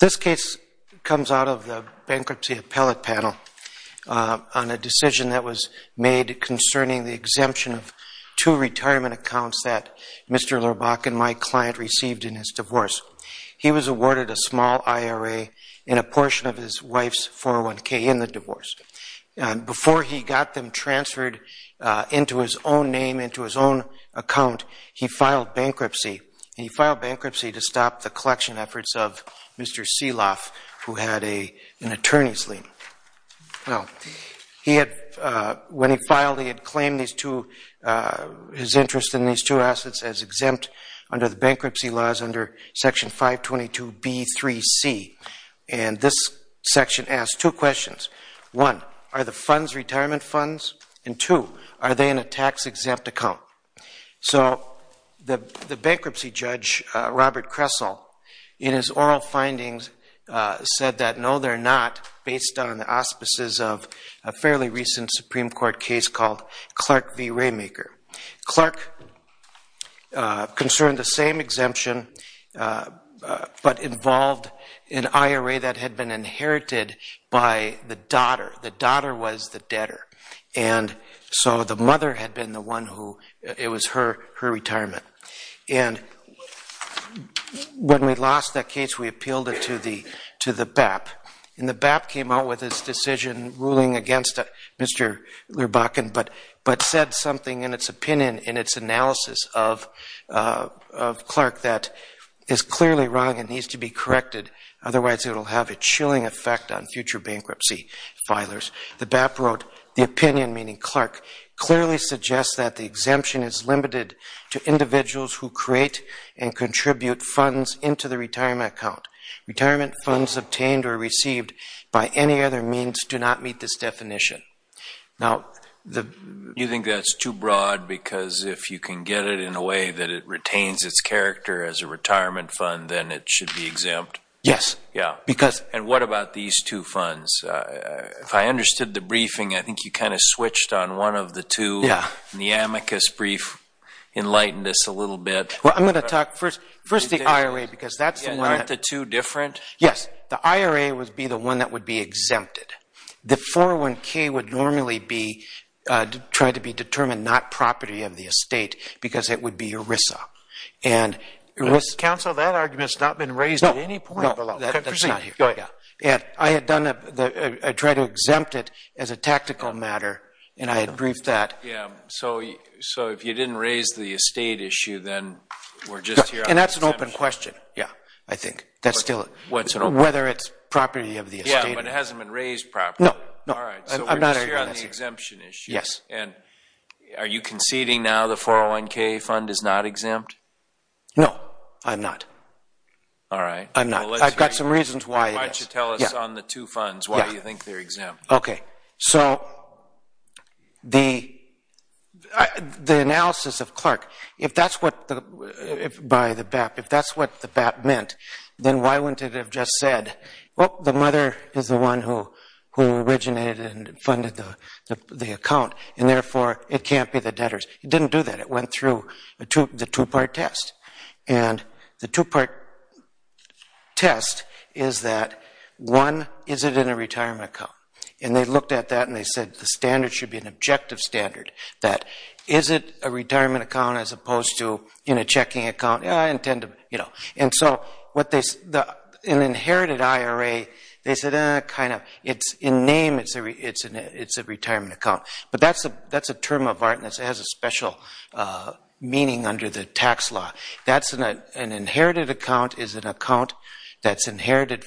This case comes out of the Bankruptcy Appellate Panel on a decision that was made concerning the exemption of two retirement accounts that Mr. Lerbakken, my client, received in his divorce. He was awarded a small IRA and a portion of his wife's 401k in the divorce. Before he got them transferred into his own name, into his own account, he filed bankruptcy. He filed bankruptcy to stop the collection efforts of Mr. Sieloff, who had an attorney's lien. Now, he had, when he filed, he had claimed these two, his interest in these two assets as exempt under the bankruptcy laws under Section 522B3C. And this section asked two questions. One, are the funds retirement funds? And two, are they in a tax-exempt account? So the bankruptcy judge, Robert Kressel, in his oral findings, said that no, they're not, based on the auspices of a fairly recent Supreme Court case called Clark v. Raymaker. Clark concerned the same exemption, but involved an IRA that had been inherited by the daughter. The daughter was the debtor. And so the mother had been the one who, it was her retirement. And when we lost that case, we appealed it to the BAP. And the BAP came out with this decision ruling against Mr. Lerbaken, but said something in its opinion, in its analysis of Clark, that is clearly wrong and needs to be corrected. Otherwise, it will have a chilling effect on future bankruptcy filers. The BAP wrote, the opinion, meaning Clark, clearly suggests that the exemption is limited to individuals who create and contribute funds into the retirement account. Retirement funds obtained or received by any other means do not meet this definition. Now, the... You think that's too broad because if you can get it in a way that it retains its character as a retirement fund, then it should be exempt? Yes. Yeah. Because... I understood the briefing. I think you kind of switched on one of the two. Yeah. And the amicus brief enlightened us a little bit. Well, I'm going to talk first the IRA because that's the one that... Aren't the two different? Yes. The IRA would be the one that would be exempted. The 401K would normally be tried to be determined not property of the estate because it would be ERISA. And ERISA... No. That's not here. Go ahead. Yeah. I had done a... I tried to exempt it as a tactical matter, and I had briefed that. Yeah. So if you didn't raise the estate issue, then we're just here... And that's an open question. Yeah. I think that's still... Whether it's property of the estate... Yeah, but it hasn't been raised properly. No. No. All right. So we're just here on the exemption issue. Yes. And are you conceding now the 401K fund is not exempt? No, I'm not. All right. I'm not. Well, let's hear you. I've got some reasons why it is. Why don't you tell us on the two funds why you think they're exempt. Okay. So the analysis of Clark, if that's what the BAP meant, then why wouldn't it have just said, well, the mother is the one who originated and funded the account, and therefore it can't be the debtors. It didn't do that. It went through the two-part test. And the two-part test is that, one, is it in a retirement account? And they looked at that and they said the standard should be an objective standard, that is it a retirement account as opposed to in a checking account? Yeah, I intend to... And so an inherited IRA, they said, kind of, it's in name, it's a retirement account. But that's a term of art and it has a special meaning under the tax law. An inherited account is an account that's inherited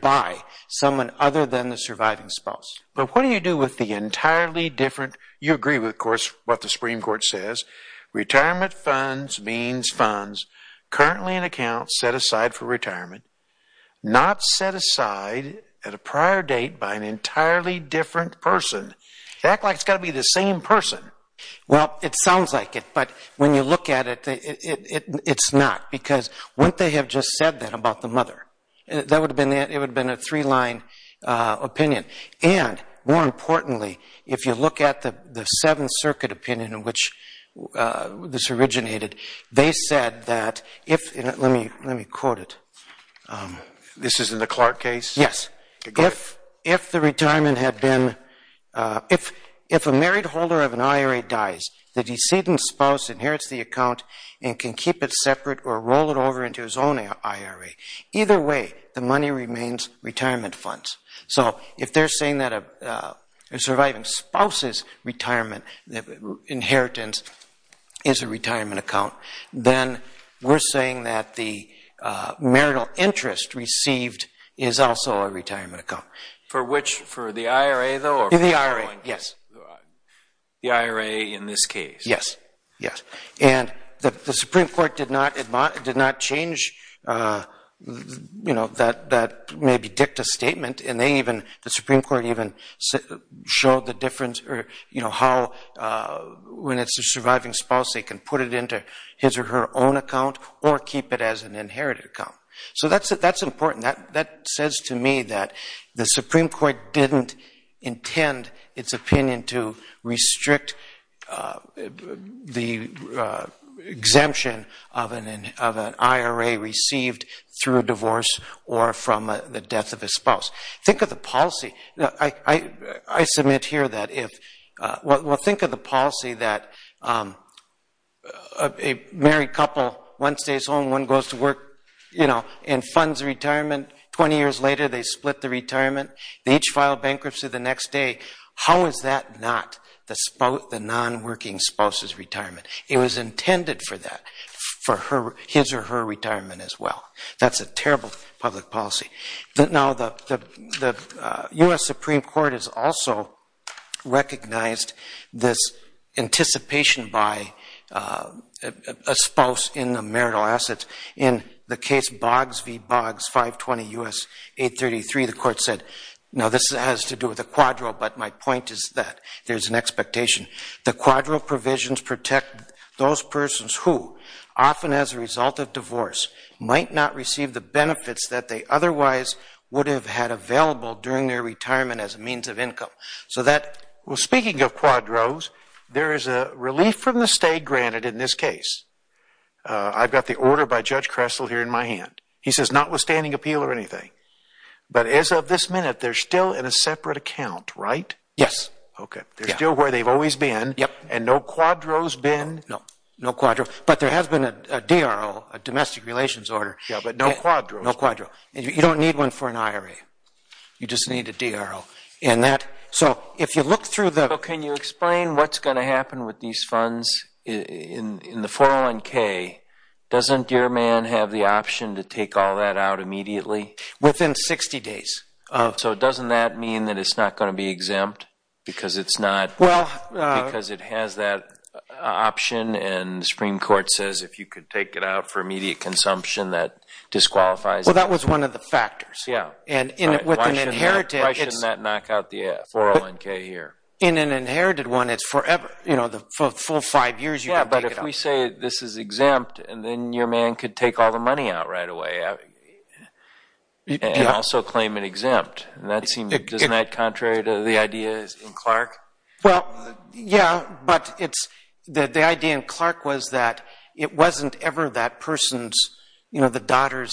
by someone other than the surviving spouse. But what do you do with the entirely different... You agree with, of course, what the Supreme Court says. Retirement funds means funds currently in account set aside for retirement, not set aside at a prior date by an entirely different person. Act like it's got to be the same person. Well, it sounds like it, but when you look at it, it's not. Because wouldn't they have just said that about the mother? It would have been a three-line opinion. And, more importantly, if you look at the Seventh Circuit opinion in which this originated, they said that if, let me quote it. This is in the Clark case? Yes. If the retirement had been... If a married holder of an IRA dies, the decedent spouse inherits the account and can keep it separate or roll it over into his own IRA. Either way, the money remains retirement funds. So if they're saying that a surviving spouse's retirement inheritance is a retirement account, then we're saying that the marital interest received is also a retirement account. For which? For the IRA, though? The IRA, yes. The IRA in this case? Yes, yes. And the Supreme Court did not change that maybe dicta statement, and the Supreme Court even showed the difference, how when it's a surviving spouse they can put it into his or her own account or keep it as an inherited account. So that's important. That says to me that the Supreme Court didn't intend its opinion to restrict the exemption of an IRA received through a divorce or from the death of a spouse. Think of the policy. I submit here that if we'll think of the policy that a married couple, one stays home, one goes to work and funds retirement. Twenty years later they split the retirement. They each file bankruptcy the next day. How is that not the non-working spouse's retirement? It was intended for that, for his or her retirement as well. That's a terrible public policy. Now, the U.S. Supreme Court has also recognized this anticipation by a spouse in the marital assets. In the case Boggs v. Boggs, 520 U.S. 833, the court said, now this has to do with a quadro, but my point is that there's an expectation. The quadro provisions protect those persons who, often as a result of divorce, might not receive the benefits that they otherwise would have had available during their retirement as a means of income. Speaking of quadros, there is a relief from the state granted in this case. I've got the order by Judge Kressel here in my hand. He says notwithstanding appeal or anything. But as of this minute, they're still in a separate account, right? Yes. They're still where they've always been and no quadro's been? No, no quadro. But there has been a DRO, a domestic relations order. Yeah, but no quadro. No quadro. You don't need one for an IRA. You just need a DRO. So if you look through the – Can you explain what's going to happen with these funds in the 401K? Doesn't your man have the option to take all that out immediately? Within 60 days. So doesn't that mean that it's not going to be exempt because it's not – And the Supreme Court says if you could take it out for immediate consumption, that disqualifies it. Well, that was one of the factors. Yeah. And with an inherited – Why shouldn't that knock out the 401K here? In an inherited one, it's forever. You know, the full five years you can take it out. Yeah, but if we say this is exempt, then your man could take all the money out right away and also claim it exempt. Doesn't that seem contrary to the ideas in Clark? Well, yeah, but it's – The idea in Clark was that it wasn't ever that person's – You know, the daughter's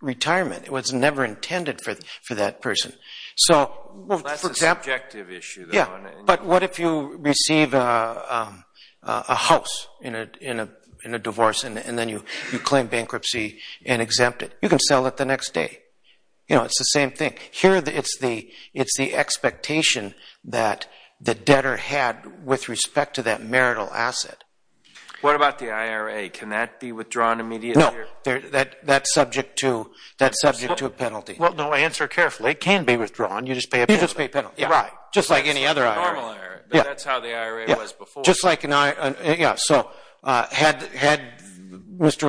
retirement. It was never intended for that person. That's a subjective issue, though. Yeah, but what if you receive a house in a divorce and then you claim bankruptcy and exempt it? You can sell it the next day. You know, it's the same thing. Here it's the expectation that the debtor had with respect to that marital asset. What about the IRA? Can that be withdrawn immediately? No. That's subject to a penalty. Well, answer carefully. It can be withdrawn. You just pay a penalty. You just pay a penalty. Right. Just like any other IRA. It's a normal IRA, but that's how the IRA was before. Just like – Yeah, so had Mr.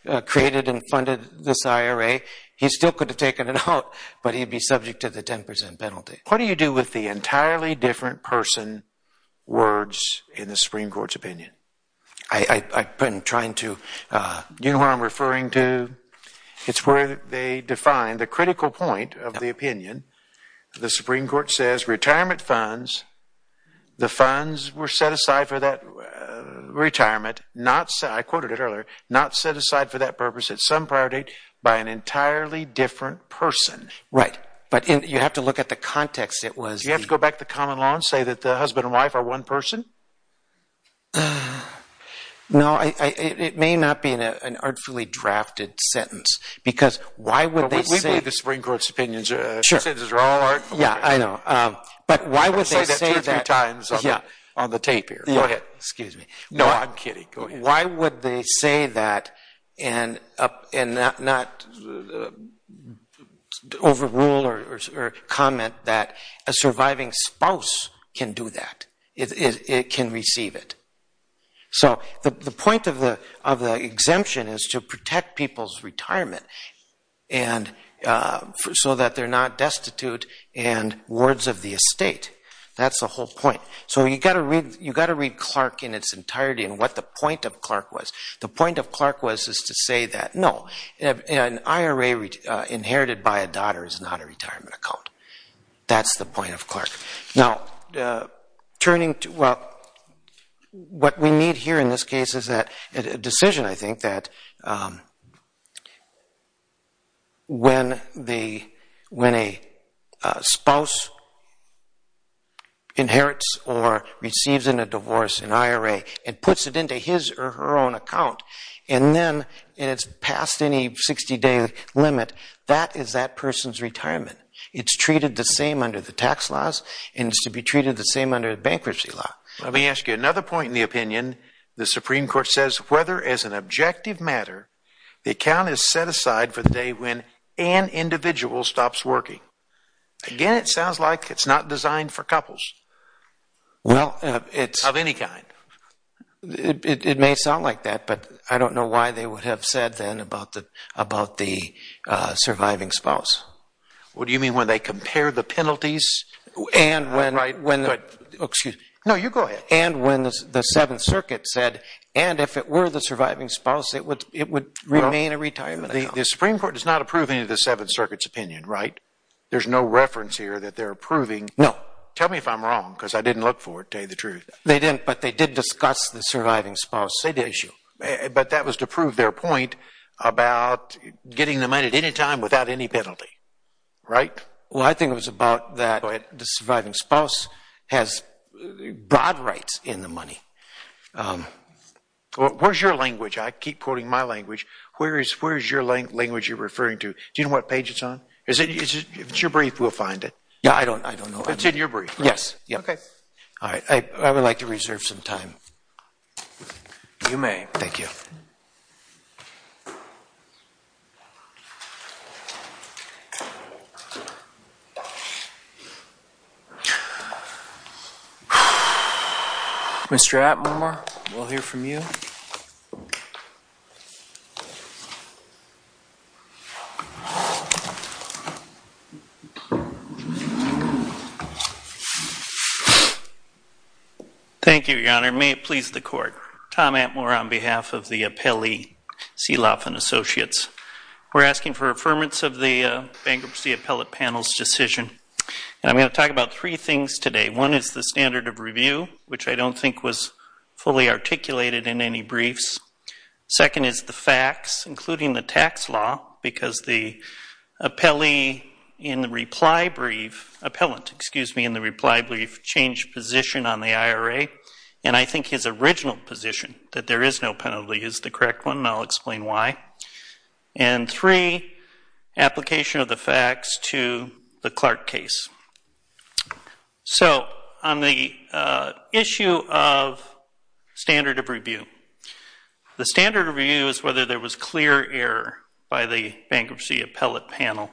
Lurbach created and funded this IRA, he still could have taken it out, but he'd be subject to the 10 percent penalty. What do you do with the entirely different person words in the Supreme Court's opinion? I've been trying to – Do you know who I'm referring to? It's where they define the critical point of the opinion. The Supreme Court says retirement funds, the funds were set aside for that retirement, I quoted it earlier, not set aside for that purpose at some prior date by an entirely different person. Right, but you have to look at the context. Do you have to go back to the common law and say that the husband and wife are one person? No, it may not be an artfully drafted sentence because why would they say – We believe the Supreme Court's opinions. Sure. The sentences are all artful. Yeah, I know. But why would they say that – I've said that two or three times on the tape here. Go ahead. Excuse me. No, I'm kidding. Go ahead. Why would they say that and not overrule or comment that a surviving spouse can do that, can receive it? So the point of the exemption is to protect people's retirement so that they're not destitute and wards of the estate. That's the whole point. So you've got to read Clark in its entirety and what the point of Clark was. The point of Clark was to say that, no, an IRA inherited by a daughter is not a retirement account. That's the point of Clark. Now, turning to – well, what we need here in this case is a decision, I think, that when a spouse inherits or receives in a divorce an IRA and puts it into his or her own account and then it's passed any 60-day limit, that is that person's retirement. It's treated the same under the tax laws and it's to be treated the same under the bankruptcy law. Let me ask you another point in the opinion. The Supreme Court says whether, as an objective matter, the account is set aside for the day when an individual stops working. Again, it sounds like it's not designed for couples of any kind. It may sound like that, but I don't know why they would have said then about the surviving spouse. What do you mean, when they compare the penalties? And when – Right. Excuse me. No, you go ahead. And when the Seventh Circuit said, and if it were the surviving spouse, it would remain a retirement account. The Supreme Court does not approve any of the Seventh Circuit's opinion, right? There's no reference here that they're approving. No. Tell me if I'm wrong because I didn't look for it to tell you the truth. They didn't, but they did discuss the surviving spouse issue. But that was to prove their point about getting the money at any time without any penalty, right? Well, I think it was about that the surviving spouse has broad rights in the money. Where's your language? I keep quoting my language. Where is your language you're referring to? Do you know what page it's on? If it's your brief, we'll find it. Yeah, I don't know. It's in your brief. Yes. Okay. All right. I would like to reserve some time. You may. Thank you. Mr. Atmar, we'll hear from you. Thank you, Your Honor. May it please the Court. Tom Atmar on behalf of the appellee, Seeloff & Associates. We're asking for affirmance of the bankruptcy appellate panel's decision. And I'm going to talk about three things today. One is the standard of review, which I don't think was fully articulated in any briefs. Second is the facts, including the tax law, because the appellee in the reply brief, appellant, excuse me, in the reply brief, changed position on the IRA. And I think his original position, that there is no penalty, is the correct one, and I'll explain why. And three, application of the facts to the Clark case. So on the issue of standard of review, the standard of review is whether there was clear error by the bankruptcy appellate panel.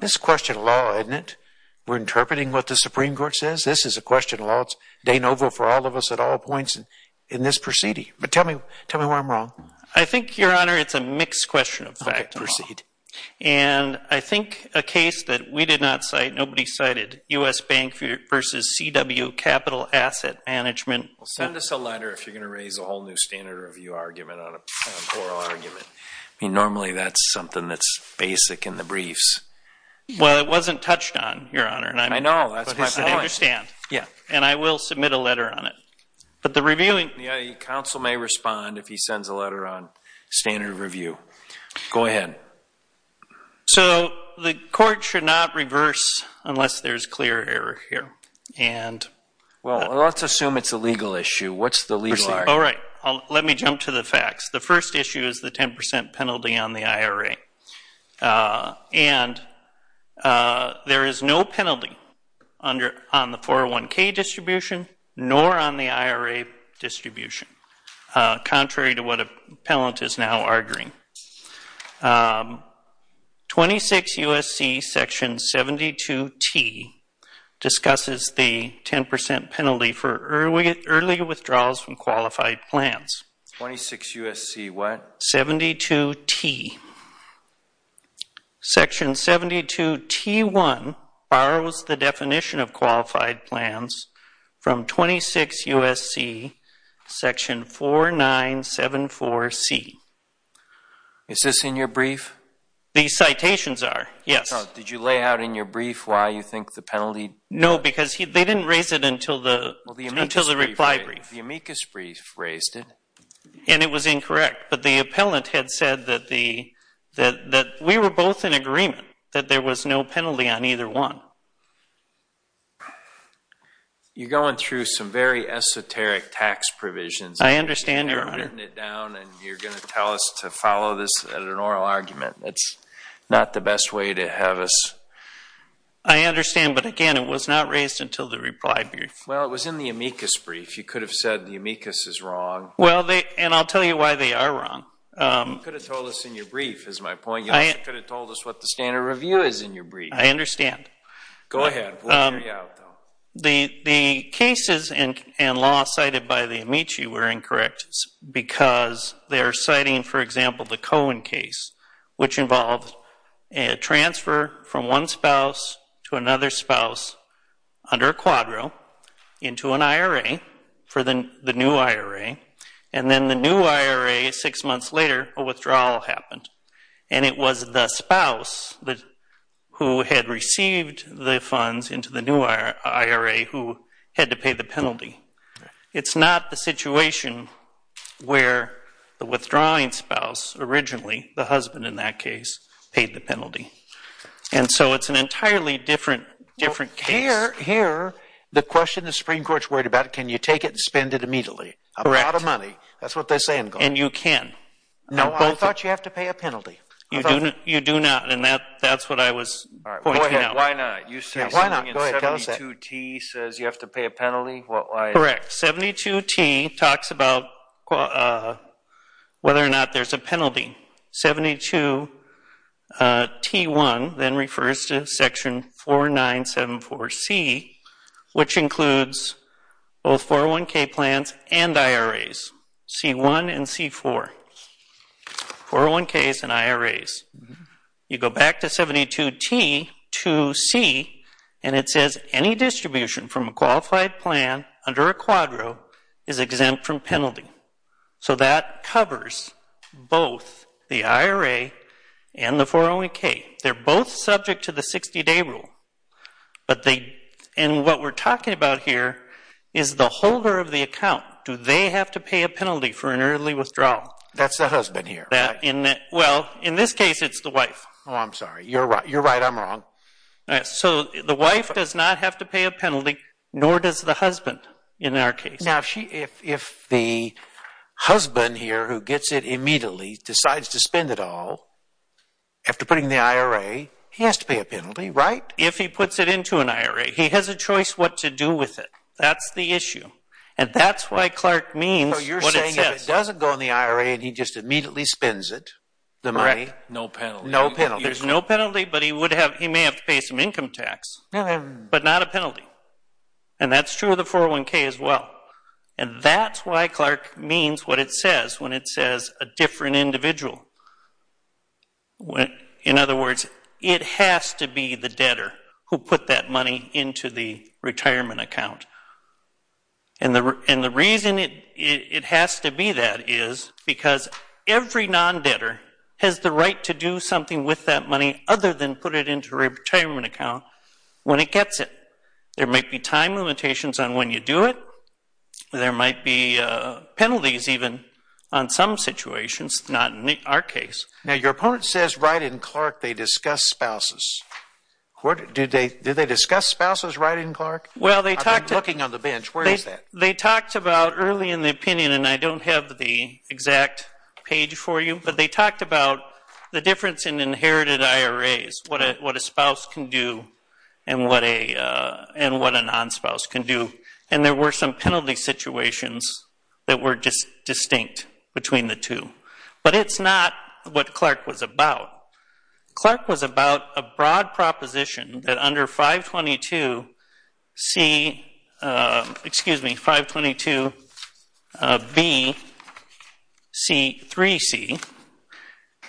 This is a question of law, isn't it? We're interpreting what the Supreme Court says. This is a question of law. It's de novo for all of us at all points in this proceeding. But tell me where I'm wrong. I think, Your Honor, it's a mixed question of fact and law. Okay. Proceed. And I think a case that we did not cite, nobody cited, U.S. Bank v. C.W. Capital Asset Management. Well, send us a letter if you're going to raise a whole new standard of review argument on an oral argument. I mean, normally that's something that's basic in the briefs. Well, it wasn't touched on, Your Honor. I know. That's my point. But I understand. Yeah. And I will submit a letter on it. But the reviewing... The counsel may respond if he sends a letter on standard of review. Go ahead. So the court should not reverse unless there's clear error here. And... Well, let's assume it's a legal issue. What's the legal argument? Proceed. All right. Let me jump to the facts. The first issue is the 10% penalty on the IRA. And there is no penalty on the 401K distribution nor on the IRA distribution, contrary to what appellant is now arguing. 26 U.S.C. Section 72T discusses the 10% penalty for early withdrawals from qualified plans. 26 U.S.C. What? 72T. Section 72T1 borrows the definition of qualified plans from 26 U.S.C. Section 4974C. Is this in your brief? The citations are, yes. Did you lay out in your brief why you think the penalty... No, because they didn't raise it until the reply brief. The amicus brief raised it. And it was incorrect. But the appellant had said that we were both in agreement that there was no penalty on either one. You're going through some very esoteric tax provisions. I understand, Your Honor. You've written it down, and you're going to tell us to follow this at an oral argument. That's not the best way to have us... I understand. But, again, it was not raised until the reply brief. Well, it was in the amicus brief. You could have said the amicus is wrong. Well, and I'll tell you why they are wrong. You could have told us in your brief, is my point. You could have told us what the standard review is in your brief. I understand. Go ahead. We'll hear you out, though. The cases and law cited by the amici were incorrect because they are citing, for example, the Cohen case, which involved a transfer from one spouse to another spouse under a quadro into an IRA for the new IRA. And then the new IRA, six months later, a withdrawal happened. And it was the spouse who had received the funds into the new IRA who had to pay the penalty. It's not the situation where the withdrawing spouse originally, the husband in that case, paid the penalty. And so it's an entirely different case. Here, the question the Supreme Court's worried about, can you take it and spend it immediately? Correct. A lot of money. That's what they say in court. And you can. No, I thought you have to pay a penalty. You do not, and that's what I was pointing out. All right. Go ahead. Why not? 72T says you have to pay a penalty? Correct. 72T talks about whether or not there's a penalty. 72T1 then refers to Section 4974C, which includes both 401K plans and IRAs, C1 and C4, 401Ks and IRAs. You go back to 72T2C, and it says any distribution from a qualified plan under a quadro is exempt from penalty. So that covers both the IRA and the 401K. They're both subject to the 60-day rule. And what we're talking about here is the holder of the account. Do they have to pay a penalty for an early withdrawal? That's the husband here. Well, in this case, it's the wife. Oh, I'm sorry. You're right. I'm wrong. So the wife does not have to pay a penalty, nor does the husband in our case. Now, if the husband here who gets it immediately decides to spend it all, after putting the IRA, he has to pay a penalty, right? If he puts it into an IRA. He has a choice what to do with it. That's the issue. And that's why Clark means what it says. If it doesn't go in the IRA and he just immediately spends it, the money, no penalty. There's no penalty, but he may have to pay some income tax, but not a penalty. And that's true of the 401K as well. And that's why Clark means what it says when it says a different individual. In other words, it has to be the debtor who put that money into the retirement account. And the reason it has to be that is because every non-debtor has the right to do something with that money other than put it into a retirement account when it gets it. There might be time limitations on when you do it. There might be penalties even on some situations, not in our case. Now, your opponent says right in Clark they discuss spouses. Did they discuss spouses right in Clark? I'm looking on the bench. Where is that? They talked about early in the opinion, and I don't have the exact page for you, but they talked about the difference in inherited IRAs, what a spouse can do and what a non-spouse can do. And there were some penalty situations that were distinct between the two. But it's not what Clark was about. Clark was about a broad proposition that under 522C, excuse me, 522B, C3C,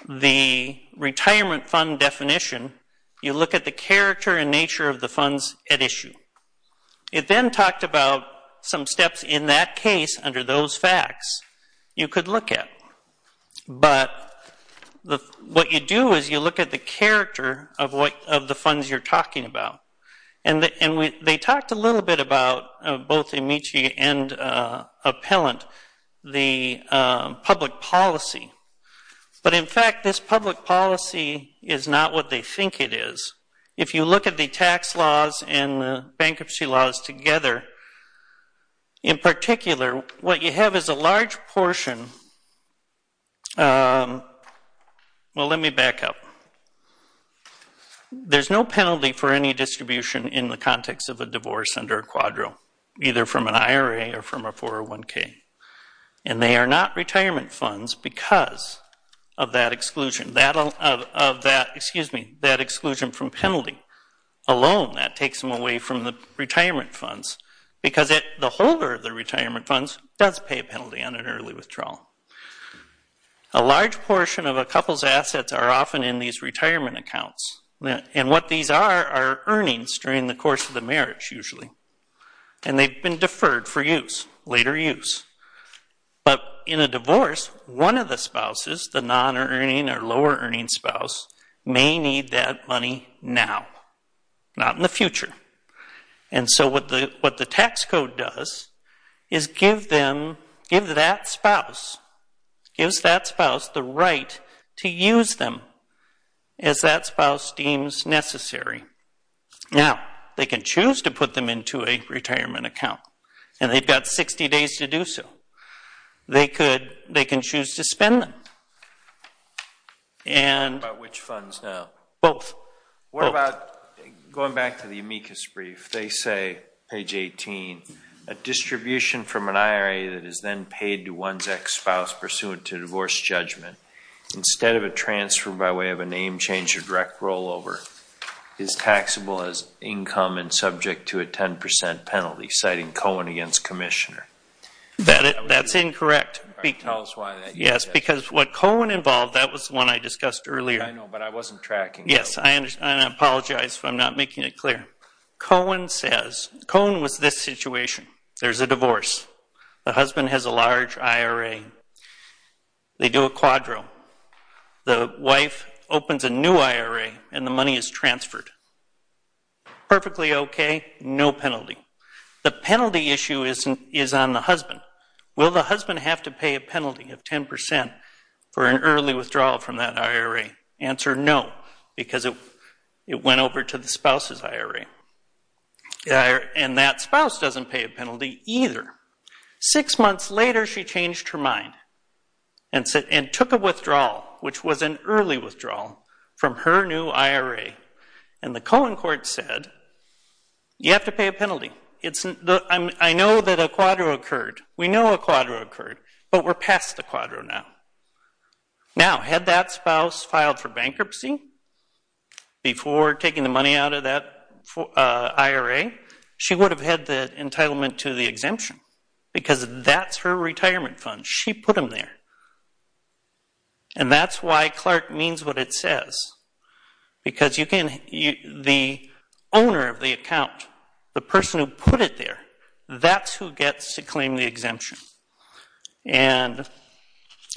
the retirement fund definition, you look at the character and nature of the funds at issue. It then talked about some steps in that case under those facts you could look at. But what you do is you look at the character of the funds you're talking about. And they talked a little bit about, both Amici and Appellant, the public policy. But, in fact, this public policy is not what they think it is. If you look at the tax laws and the bankruptcy laws together, in particular, what you have is a large portion, well, let me back up. There's no penalty for any distribution in the context of a divorce under a quadro, either from an IRA or from a 401K. And they are not retirement funds because of that exclusion. That exclusion from penalty alone, that takes them away from the retirement funds because the holder of the retirement funds does pay a penalty on an early withdrawal. A large portion of a couple's assets are often in these retirement accounts. And what these are are earnings during the course of the marriage, usually. And they've been deferred for use, later use. But in a divorce, one of the spouses, the non-earning or lower-earning spouse, may need that money now, not in the future. And so what the tax code does is give that spouse the right to use them as that spouse deems necessary. Now, they can choose to put them into a retirement account. And they've got 60 days to do so. They can choose to spend them. And... About which funds now? Both. What about, going back to the amicus brief, they say, page 18, a distribution from an IRA that is then paid to one's ex-spouse pursuant to divorce judgment, instead of a transfer by way of a name change or direct rollover, is taxable as income and subject to a 10% penalty, citing Cohen against Commissioner. That's incorrect. Tell us why that is. Yes, because what Cohen involved, that was the one I discussed earlier. I know, but I wasn't tracking. Yes, and I apologize if I'm not making it clear. Cohen says, Cohen was this situation. There's a divorce. The husband has a large IRA. They do a quadro. The wife opens a new IRA, and the money is transferred. Perfectly okay, no penalty. The penalty issue is on the husband. Will the husband have to pay a penalty of 10% for an early withdrawal from that IRA? Answer, no, because it went over to the spouse's IRA. And that spouse doesn't pay a penalty either. Six months later, she changed her mind and took a withdrawal, which was an early withdrawal, from her new IRA. And the Cohen court said, you have to pay a penalty. I know that a quadro occurred. We know a quadro occurred, but we're past the quadro now. Now, had that spouse filed for bankruptcy before taking the money out of that IRA, she would have had the entitlement to the exemption, because that's her retirement fund. She put them there. And that's why Clark means what it says, because the owner of the account, the person who put it there, that's who gets to claim the exemption. And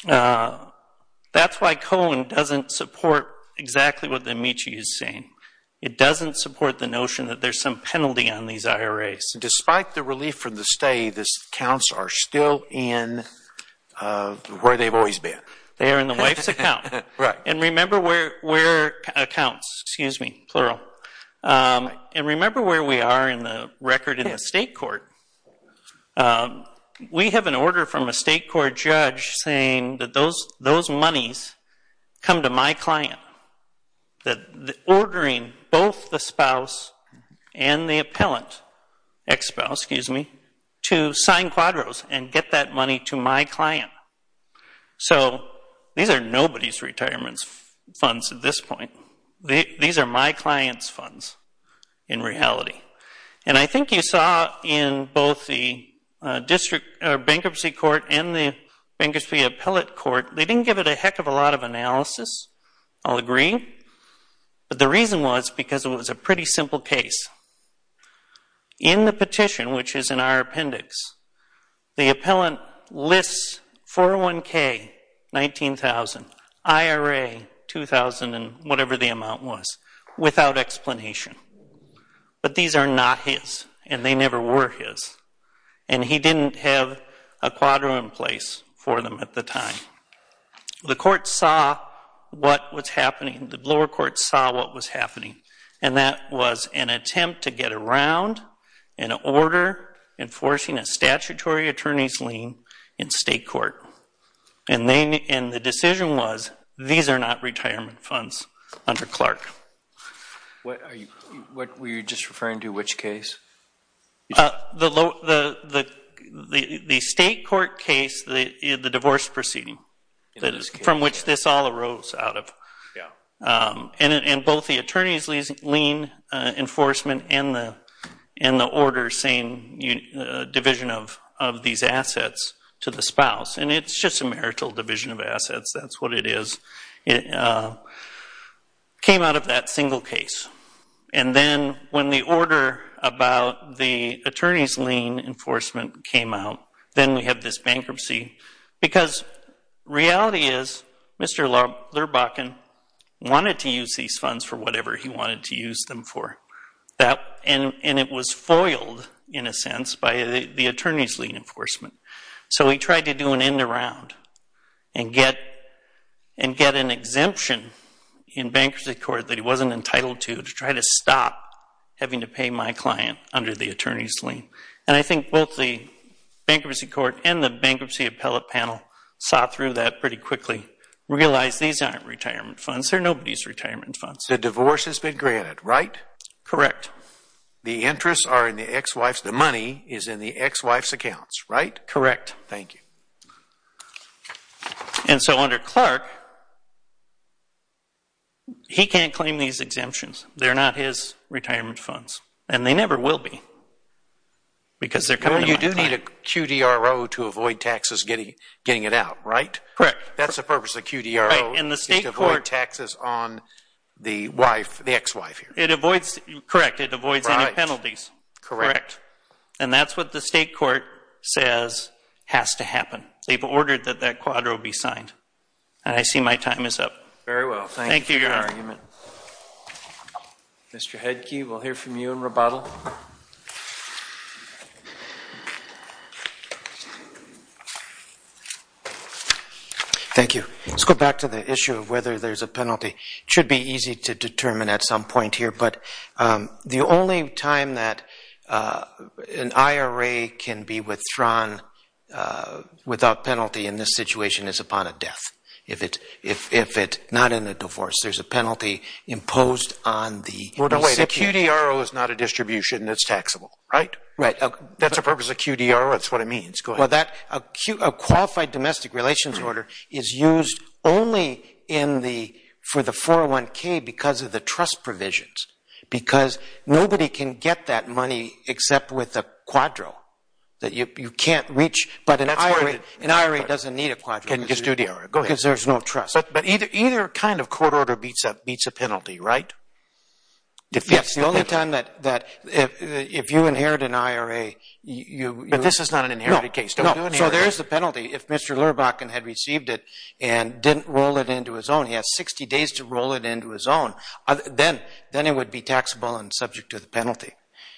that's why Cohen doesn't support exactly what the amici is saying. It doesn't support the notion that there's some penalty on these IRAs. Despite the relief from the stay, the accounts are still in where they've always been. They are in the wife's account. And remember where accounts, excuse me, plural. And remember where we are in the record in the state court. We have an order from a state court judge saying that those monies come to my client. The ordering both the spouse and the appellant, ex-spouse, excuse me, to sign quadros and get that money to my client. So these are nobody's retirement funds at this point. These are my client's funds in reality. And I think you saw in both the bankruptcy court and the bankruptcy appellate court, they didn't give it a heck of a lot of analysis. I'll agree. But the reason was because it was a pretty simple case. In the petition, which is in our appendix, the appellant lists 401K, 19,000, IRA, 2,000, and whatever the amount was, without explanation. But these are not his, and they never were his. And he didn't have a quadro in place for them at the time. The court saw what was happening. The lower court saw what was happening. And that was an attempt to get around an order enforcing a statutory attorney's lien in state court. And the decision was, these are not retirement funds under Clark. Were you just referring to which case? The state court case, the divorce proceeding, from which this all arose out of. And both the attorney's lien enforcement and the order saying division of these assets to the spouse. And it's just a marital division of assets. That's what it is. It came out of that single case. And then when the order about the attorney's lien enforcement came out, then we have this bankruptcy. Because reality is, Mr. Lurbachan wanted to use these funds for whatever he wanted to use them for. And it was foiled, in a sense, by the attorney's lien enforcement. So he tried to do an end-to-round and get an exemption in bankruptcy court that he wasn't entitled to to try to stop having to pay my client under the attorney's lien. And I think both the bankruptcy court and the bankruptcy appellate panel saw through that pretty quickly, realized these aren't retirement funds. They're nobody's retirement funds. The divorce has been granted, right? Correct. The interests are in the ex-wife's. The money is in the ex-wife's accounts, right? Correct. Thank you. And so under Clark, he can't claim these exemptions. They're not his retirement funds. And they never will be because they're coming at a time. Well, you do need a QDRO to avoid taxes getting it out, right? Correct. That's the purpose of QDRO is to avoid taxes on the ex-wife here. Correct. It avoids any penalties. Correct. And that's what the state court says has to happen. They've ordered that that QDRO be signed. And I see my time is up. Very well. Thank you for your argument. Mr. Headke, we'll hear from you in rebuttal. Thank you. Let's go back to the issue of whether there's a penalty. It should be easy to determine at some point here. But the only time that an IRA can be withdrawn without penalty in this situation is upon a death. If it's not in a divorce, there's a penalty imposed on the recipient. Well, no way. The QDRO is not a distribution. It's taxable, right? Right. That's the purpose of QDRO. That's what it means. Go ahead. A qualified domestic relations order is used only for the 401K because of the trust provisions. Because nobody can get that money except with a QDRO that you can't reach. But an IRA doesn't need a QDRO because there's no trust. But either kind of court order beats a penalty, right? Yes. The only time that if you inherit an IRA you... But this is not an inherited case. No. So there's the penalty. If Mr. Lurbachan had received it and didn't roll it into his own, he has 60 days to roll it into his own, then it would be taxable and subject to the penalty.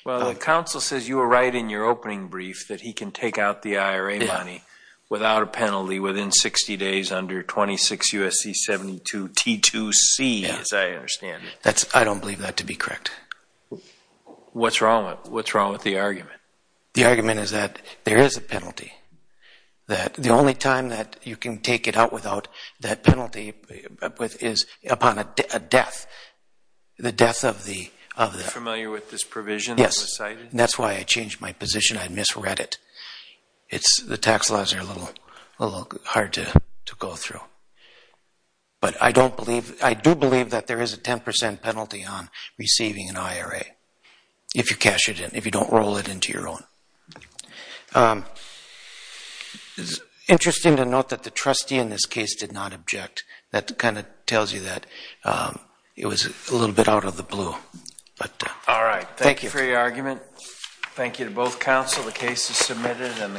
Well, the counsel says you were right in your opening brief that he can take out the IRA money without a penalty within 60 days under 26 U.S.C. 72 T2C, as I understand it. I don't believe that to be correct. What's wrong with the argument? The argument is that there is a penalty, that the only time that you can take it out without that penalty is upon a death, the death of the... Are you familiar with this provision that was cited? Yes, and that's why I changed my position. I misread it. The tax laws are a little hard to go through. But I do believe that there is a 10% penalty on receiving an IRA if you cash it in, and you roll it into your own. It's interesting to note that the trustee in this case did not object. That kind of tells you that it was a little bit out of the blue. All right. Thank you for your argument. Thank you to both counsel. The case is submitted, and the court will file an opinion in due course.